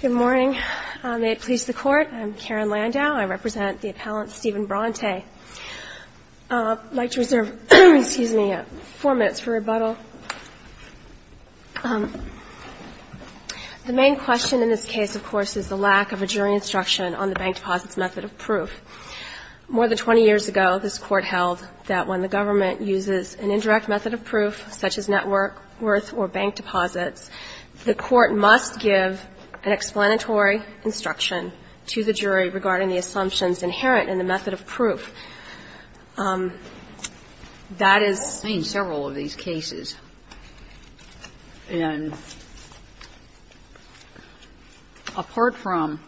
Good morning. May it please the Court, I'm Karen Landau. I represent the appellant Stephen Bronte. I'd like to reserve four minutes for rebuttal. The main question in this case, of course, is the lack of a jury instruction on the bank deposit's method of proof. More than 20 years ago, this Court held that when the government uses an indirect method of proof, such as net worth or bank deposits, the Court must give an explanatory instruction to the jury regarding the assumptions inherent in the method of proof. That is the main several of these cases. And apart from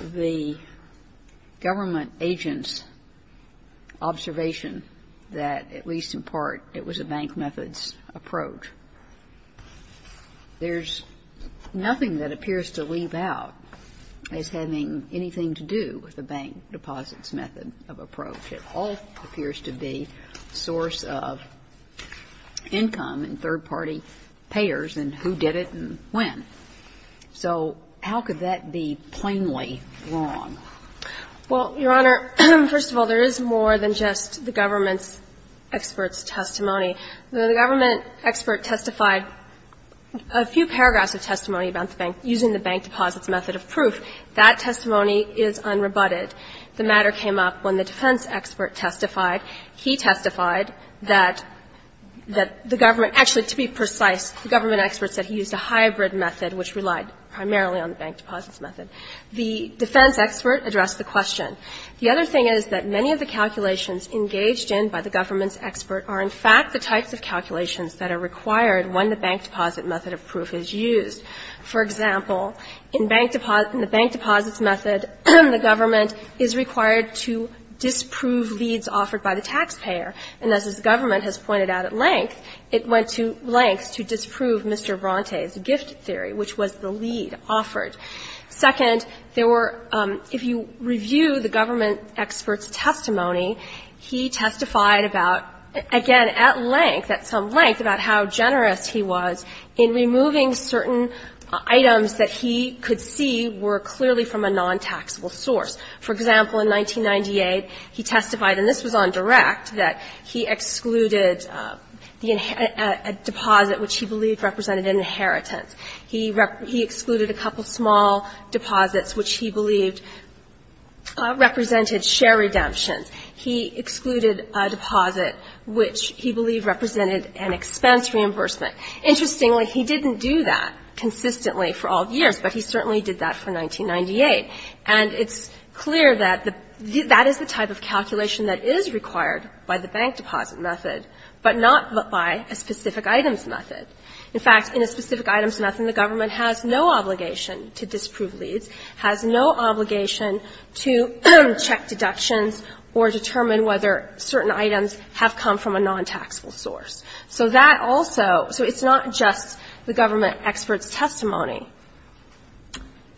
the government agent's observation that, at least in part, it was a bank method's approach, there's nothing that appears to leave out as having anything to do with the bank deposit's method of approach. It all appears to be source of income and third-party payers and who did it and when. So how could that be plainly wrong? Well, Your Honor, first of all, there is more than just the government's expert's testimony. The government expert testified a few paragraphs of testimony about the bank using the bank deposit's method of proof. That testimony is unrebutted. The matter came up when the defense expert testified. He testified that the government actually, to be precise, the government expert said he used a hybrid method which relied primarily on the bank deposit's method. The defense expert addressed the question. The other thing is that many of the calculations engaged in by the government's expert are, in fact, the types of calculations that are required when the bank deposit method of proof is used. For example, in the bank deposit's method, the government is required to disprove leads offered by the taxpayer. And as this government has pointed out at length, it went to lengths to disprove Mr. Bronte's gift theory, which was the lead offered. Second, there were – if you review the government expert's testimony, he testified about, again, at length, at some length, about how generous he was in removing certain items that he could see were clearly from a non-taxable source. For example, in 1998, he testified, and this was on direct, that he excluded a deposit which he believed represented an inheritance. He excluded a couple small deposits which he believed represented share redemptions. He excluded a deposit which he believed represented an expense reimbursement. Interestingly, he didn't do that consistently for all years, but he certainly did that for 1998. And it's clear that the – that is the type of calculation that is required by the bank deposit method, but not by a specific items method. In fact, in a specific items method, the government has no obligation to disprove leads, has no obligation to check deductions or determine whether certain items have come from a non-taxable source. So that also – so it's not just the government expert's testimony.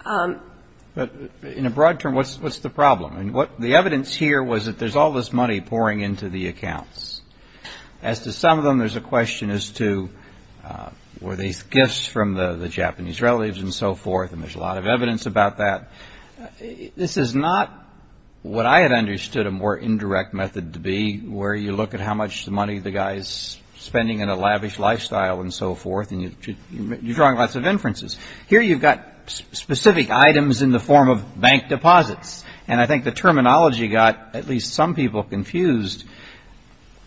But in a broad term, what's the problem? The evidence here was that there's all this money pouring into the accounts. As to some of them, there's a question as to were these gifts from the Japanese relatives and so forth, and there's a lot of evidence about that. This is not what I had understood a more indirect method to be, where you look at how much money the guy is spending in a lavish lifestyle and so forth, and you're drawing lots of inferences. Here you've got specific items in the form of bank deposits. And I think the terminology got at least some people confused.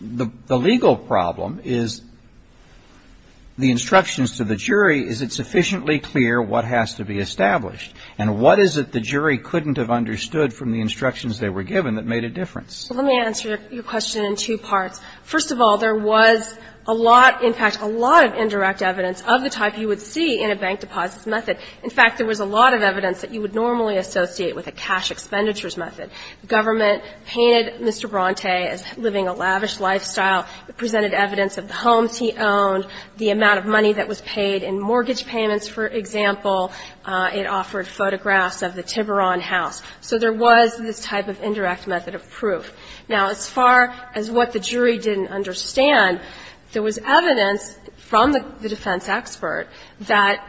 The legal problem is the instructions to the jury, is it sufficiently clear what has to be established? And what is it the jury couldn't have understood from the instructions they were given that made a difference? Well, let me answer your question in two parts. First of all, there was a lot – in fact, a lot of indirect evidence of the type you would see in a bank deposits method. In fact, there was a lot of evidence that you would normally associate with a cash expenditures method. The government painted Mr. Bronte as living a lavish lifestyle. It presented evidence of the homes he owned, the amount of money that was paid in mortgage payments, for example. It offered photographs of the Tiburon house. So there was this type of indirect method of proof. Now, as far as what the jury didn't understand, there was evidence from the defense expert that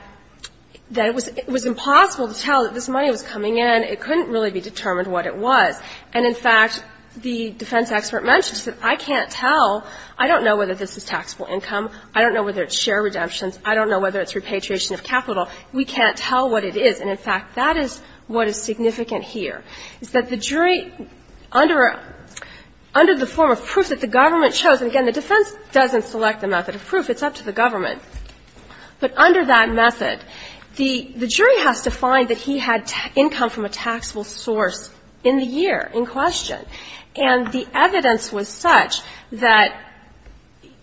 it was impossible to tell that this money was coming in. It couldn't really be determined what it was. And in fact, the defense expert mentioned, he said, I can't tell. I don't know whether this is taxable income. I don't know whether it's share redemptions. I don't know whether it's repatriation of capital. We can't tell what it is. And in fact, that is what is significant here, is that the jury, under the form of proof that the government chose – and again, the defense doesn't select the method of proof. It's up to the government. But under that method, the jury has to find that he had income from a taxable source in the year in question. And the evidence was such that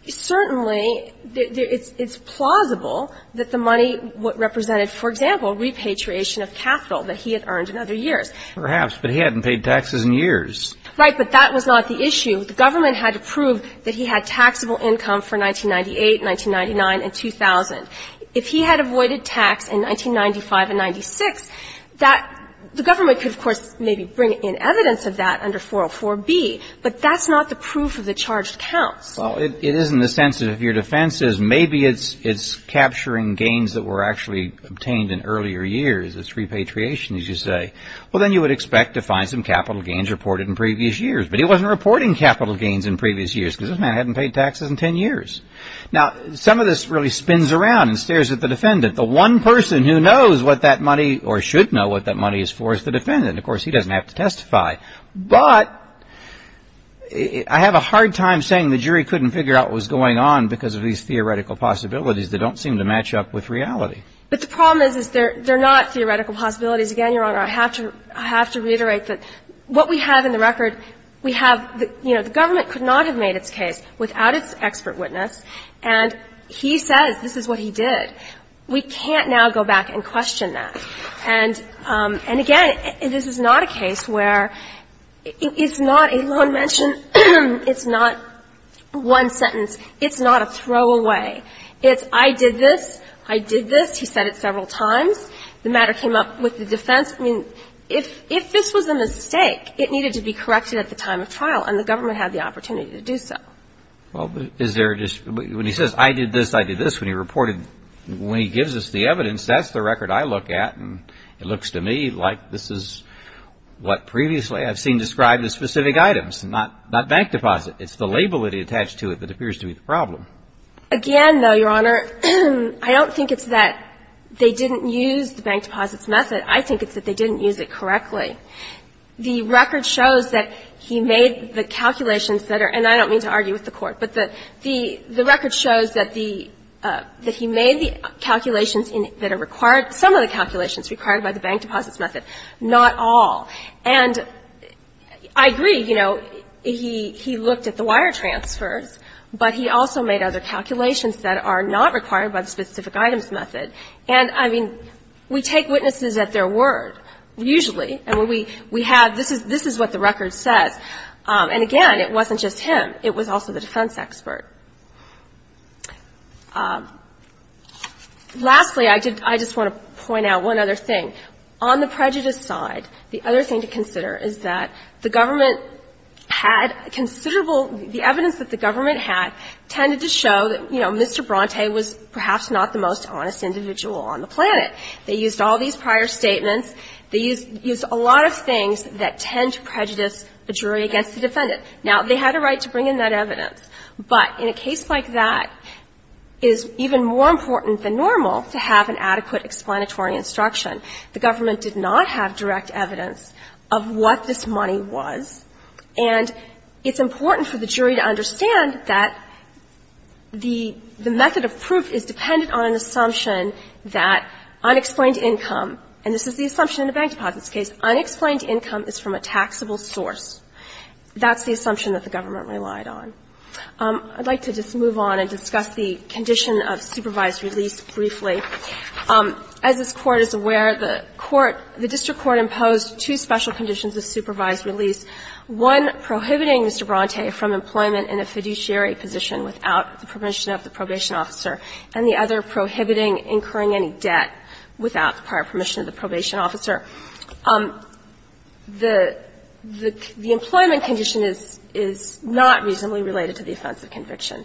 certainly it's plausible that the money represented, for example, repatriation of capital that he had earned in other years. But he hadn't paid taxes in years. Right. But that was not the issue. The government had to prove that he had taxable income for 1998, 1999, and 2000. If he had avoided tax in 1995 and 1996, that – the government could, of course, maybe bring in evidence of that under 404B. But that's not the proof of the charged counts. Well, it is in the sense that if your defense says maybe it's capturing gains that were actually obtained in earlier years, it's repatriation, as you say, well, then you would expect to find some capital gains reported in previous years. But he wasn't reporting capital gains in previous years because this man hadn't paid taxes in 10 years. Now, some of this really spins around and stares at the defendant. The one person who knows what that money or should know what that money is for is the defendant. Of course, he doesn't have to testify. But I have a hard time saying the jury couldn't figure out what was going on because of these theoretical possibilities that don't seem to match up with reality. But the problem is they're not theoretical possibilities. Again, Your Honor, I have to reiterate that what we have in the record we have, you know, the government could not have made its case without its expert witness. And he says this is what he did. We can't now go back and question that. And again, this is not a case where it's not a lone mention. It's not one sentence. It's not a throwaway. It's I did this. I did this. He said it several times. The matter came up with the defense. I mean, if this was a mistake, it needed to be corrected at the time of trial and the government had the opportunity to do so. Well, is there a dispute? When he says I did this, I did this, when he gives us the evidence, that's the record I look at. And it looks to me like this is what previously I've seen described as specific items, not bank deposit. It's the label that he attached to it that appears to be the problem. Again, though, Your Honor, I don't think it's that they didn't use the bank deposits method. I think it's that they didn't use it correctly. The record shows that he made the calculations that are, and I don't mean to argue with the Court, but the record shows that the, that he made the calculations that are required, some of the calculations required by the bank deposits method, not all. And I agree, you know, he looked at the wire transfers, but he also made other calculations that are not required by the specific items method. And, I mean, we take witnesses at their word, usually. And we have, this is what the record says. And, again, it wasn't just him. It was also the defense expert. Lastly, I just want to point out one other thing. On the prejudice side, the other thing to consider is that the government had considerable, the evidence that the government had tended to show that, you know, the jury was not the only individual on the planet. They used all these prior statements. They used a lot of things that tend to prejudice the jury against the defendant. Now, they had a right to bring in that evidence. But in a case like that, it is even more important than normal to have an adequate explanatory instruction. The government did not have direct evidence of what this money was. And it's important for the jury to understand that the method of proof is dependent on an assumption that unexplained income, and this is the assumption in a bank deposits case, unexplained income is from a taxable source. That's the assumption that the government relied on. I'd like to just move on and discuss the condition of supervised release briefly. As this Court is aware, the court, the district court imposed two special conditions for the supervised release, one prohibiting Mr. Bronte from employment in a fiduciary position without the permission of the probation officer, and the other prohibiting incurring any debt without the prior permission of the probation officer. The employment condition is not reasonably related to the offense of conviction.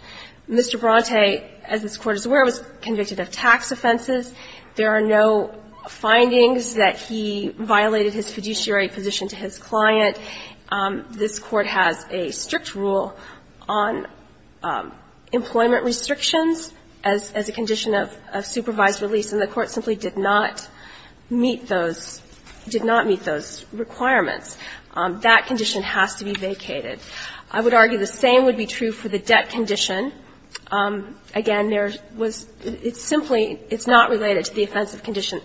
Mr. Bronte, as this Court is aware, was convicted of tax offenses. There are no findings that he violated his fiduciary position to his client. This Court has a strict rule on employment restrictions as a condition of supervised release, and the Court simply did not meet those, did not meet those requirements. That condition has to be vacated. I would argue the same would be true for the debt condition. Again, there was – it's simply – it's not related to the offense of condition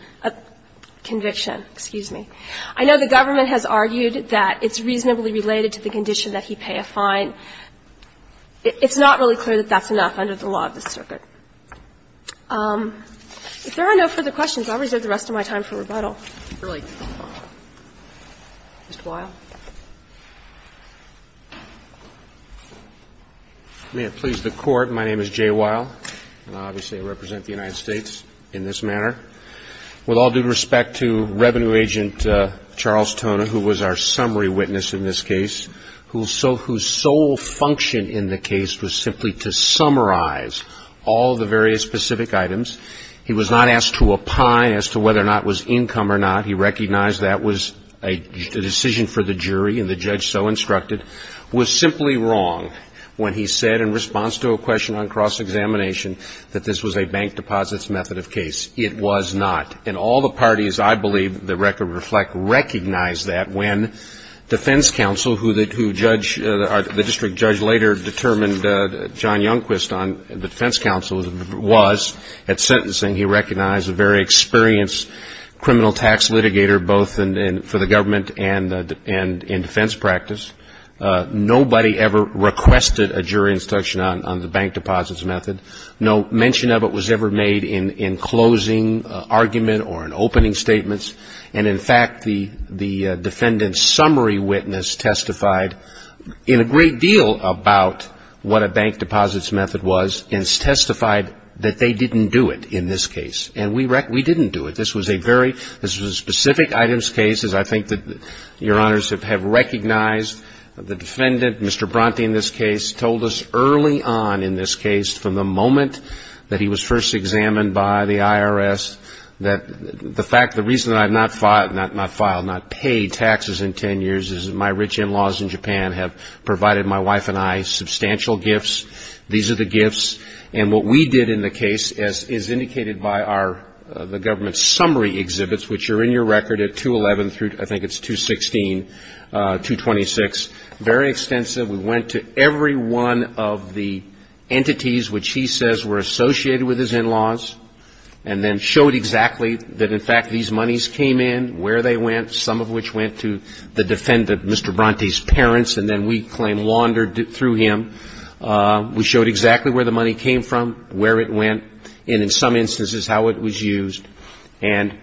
– conviction, excuse me. I know the government has argued that it's reasonably related to the condition that he pay a fine. It's not really clear that that's enough under the law of the circuit. If there are no further questions, I'll reserve the rest of my time for rebuttal. Mr. Weil. May it please the Court, my name is Jay Weil, and I obviously represent the United States in this manner. With all due respect to Revenue Agent Charles Tona, who was our summary witness in this case, whose sole function in the case was simply to summarize all of the various specific items. He was not asked to opine as to whether or not it was income or not. He recognized that was a decision for the jury, and the judge so instructed, was simply wrong when he said in response to a question on cross-examination that this was a bank deposits method of case. It was not. And all the parties, I believe, that I could reflect, recognized that when defense counsel, who judge – the district judge later determined John Youngquist on the defense counsel was at sentencing, he recognized a very experienced criminal tax litigator, both for the government and in defense practice. Nobody ever requested a jury instruction on the bank deposits method. No mention of it was ever made in closing argument or in opening statements. And in fact, the defendant's summary witness testified in a great deal about what a bank deposits method was and testified that they didn't do it in this case. And we didn't do it. This was a very – this was a specific items case, as I think that Your Honors have recognized. The defendant, Mr. Bronte in this case, told us early on in this case from the moment that he was first examined by the IRS that the fact – the reason that I have not filed – not paid taxes in ten years is my rich in-laws in Japan have given me substantial gifts. These are the gifts. And what we did in the case, as indicated by our – the government's summary exhibits, which are in your record at 211 through – I think it's 216 – 226, very extensive. We went to every one of the entities which he says were associated with his in-laws and then showed exactly that in fact these monies came in, where they went, some of which went to the defendant, Mr. Bronte's parents, and then we – the claim laundered through him. We showed exactly where the money came from, where it went, and in some instances how it was used. And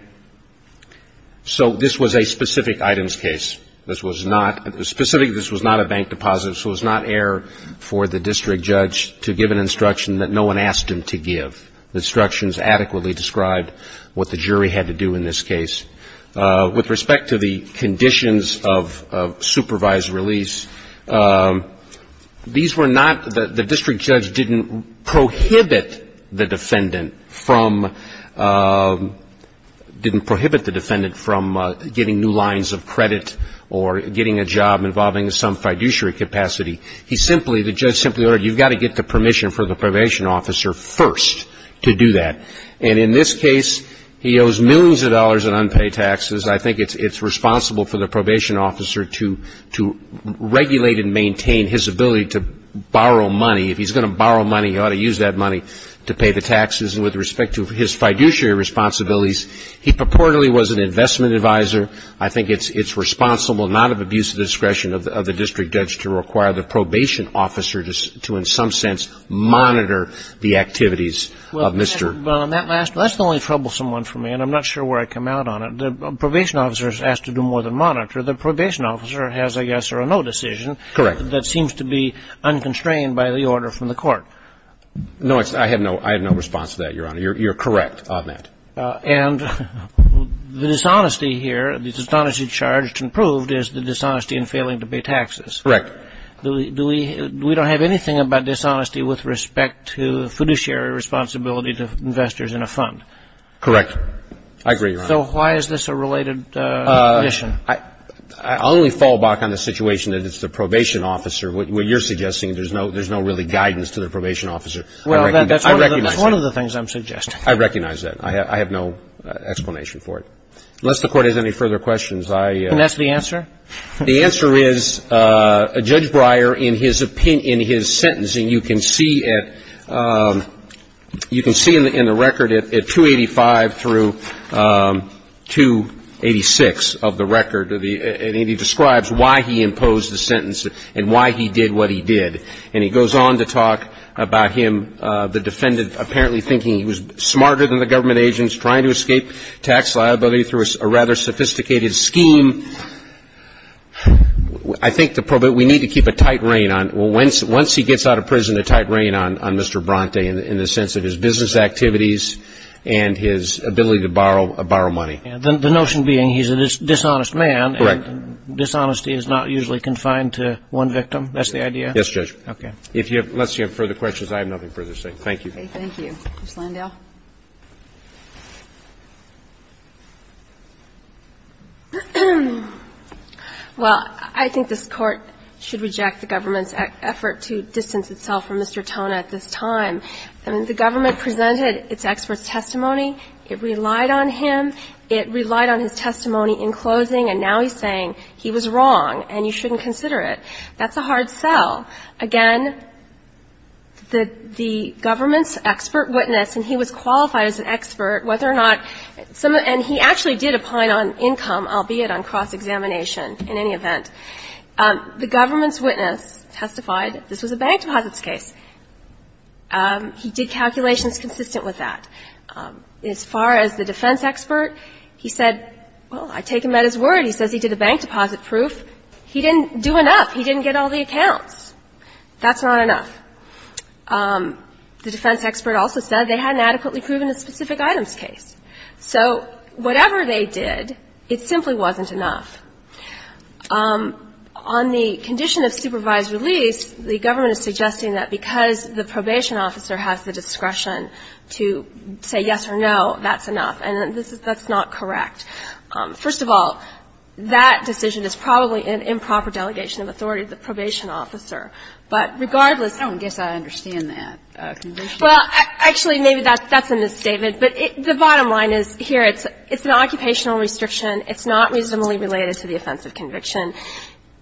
so this was a specific items case. This was not – specifically, this was not a bank deposit, so it was not air for the district judge to give an instruction that no one asked him to give. The instructions adequately described what the jury had to do in this case. With respect to the conditions of supervised release, these were not – the district judge didn't prohibit the defendant from – didn't prohibit the defendant from getting new lines of credit or getting a job involving some fiduciary capacity. He simply – the judge simply ordered, you've got to get the permission for the probation officer first to do that. And in this case, he owes millions of dollars in unpaid taxes. I think it's responsible for the probation officer to regulate and maintain his ability to borrow money. If he's going to borrow money, he ought to use that money to pay the taxes. And with respect to his fiduciary responsibilities, he purportedly was an investment advisor. I think it's responsible not of abuse of discretion of the district judge to require the probation officer to in some sense monitor the activities of Mr. Brown. That's the only troublesome one for me. And I'm not sure where I come out on it. The probation officer is asked to do more than monitor. The probation officer has a yes or a no decision. Correct. That seems to be unconstrained by the order from the court. No, I have no response to that, Your Honor. You're correct on that. And the dishonesty here, the dishonesty charged and proved is the dishonesty in failing to pay taxes. Correct. Do we – we don't have anything about dishonesty with respect to fiduciary responsibility to investors in a fund? Correct. I agree, Your Honor. So why is this a related condition? I'll only fall back on the situation that it's the probation officer. What you're suggesting, there's no really guidance to the probation officer. Well, that's one of the things I'm suggesting. I recognize that. I have no explanation for it. Unless the court has any further questions, I – And that's the answer? The answer is, Judge Breyer, in his opinion – in his sentencing, you can see at – you can see in the record at 285 through 286 of the record. And he describes why he imposed the sentence and why he did what he did. And he goes on to talk about him, the defendant, apparently thinking he was smarter than the government agents, trying to escape tax liability through a rather sophisticated scheme. I think the – we need to keep a tight rein on – once he gets out of prison, a tight rein on Mr. Bronte in the sense of his business activities and his ability to borrow money. The notion being he's a dishonest man. Correct. And dishonesty is not usually confined to one victim. That's the idea? Yes, Judge. Okay. If you have – unless you have further questions, I have nothing further to say. Thank you. Thank you. Ms. Landau? Well, I think this Court should reject the government's effort to distance itself from Mr. Tona at this time. I mean, the government presented its expert's testimony. It relied on him. It relied on his testimony in closing, and now he's saying he was wrong and you shouldn't consider it. That's a hard sell. Again, the government's expert witness, and he was qualified as an expert, whether or not – and he actually did opine on income, albeit on cross-examination in any event. The government's witness testified this was a bank deposits case. He did calculations consistent with that. As far as the defense expert, he said, well, I take him at his word. He says he did a bank deposit proof. He didn't do enough. He didn't get all the accounts. That's not enough. The defense expert also said they hadn't adequately proven a specific items case. So whatever they did, it simply wasn't enough. On the condition of supervised release, the government is suggesting that because the probation officer has the discretion to say yes or no, that's enough, and that's not correct. First of all, that decision is probably an improper delegation of authority to the probation officer. But regardless – I don't guess I understand that conviction. Well, actually, maybe that's a misstatement. But the bottom line is, here, it's an occupational restriction. It's not reasonably related to the offense of conviction.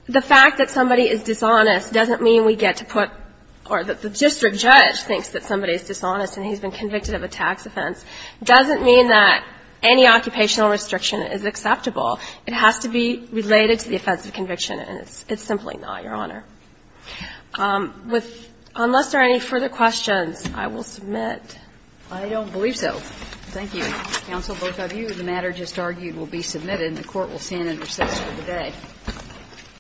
The fact that somebody is dishonest doesn't mean we get to put – or that the district judge thinks that somebody is dishonest and he's been convicted of a tax offense doesn't mean that any occupational restriction is acceptable. It has to be related to the offense of conviction, and it's simply not, Your Honor. Unless there are any further questions, I will submit. I don't believe so. Thank you. Counsel, both of you. The matter just argued will be submitted. The Court will stand in recess for the day.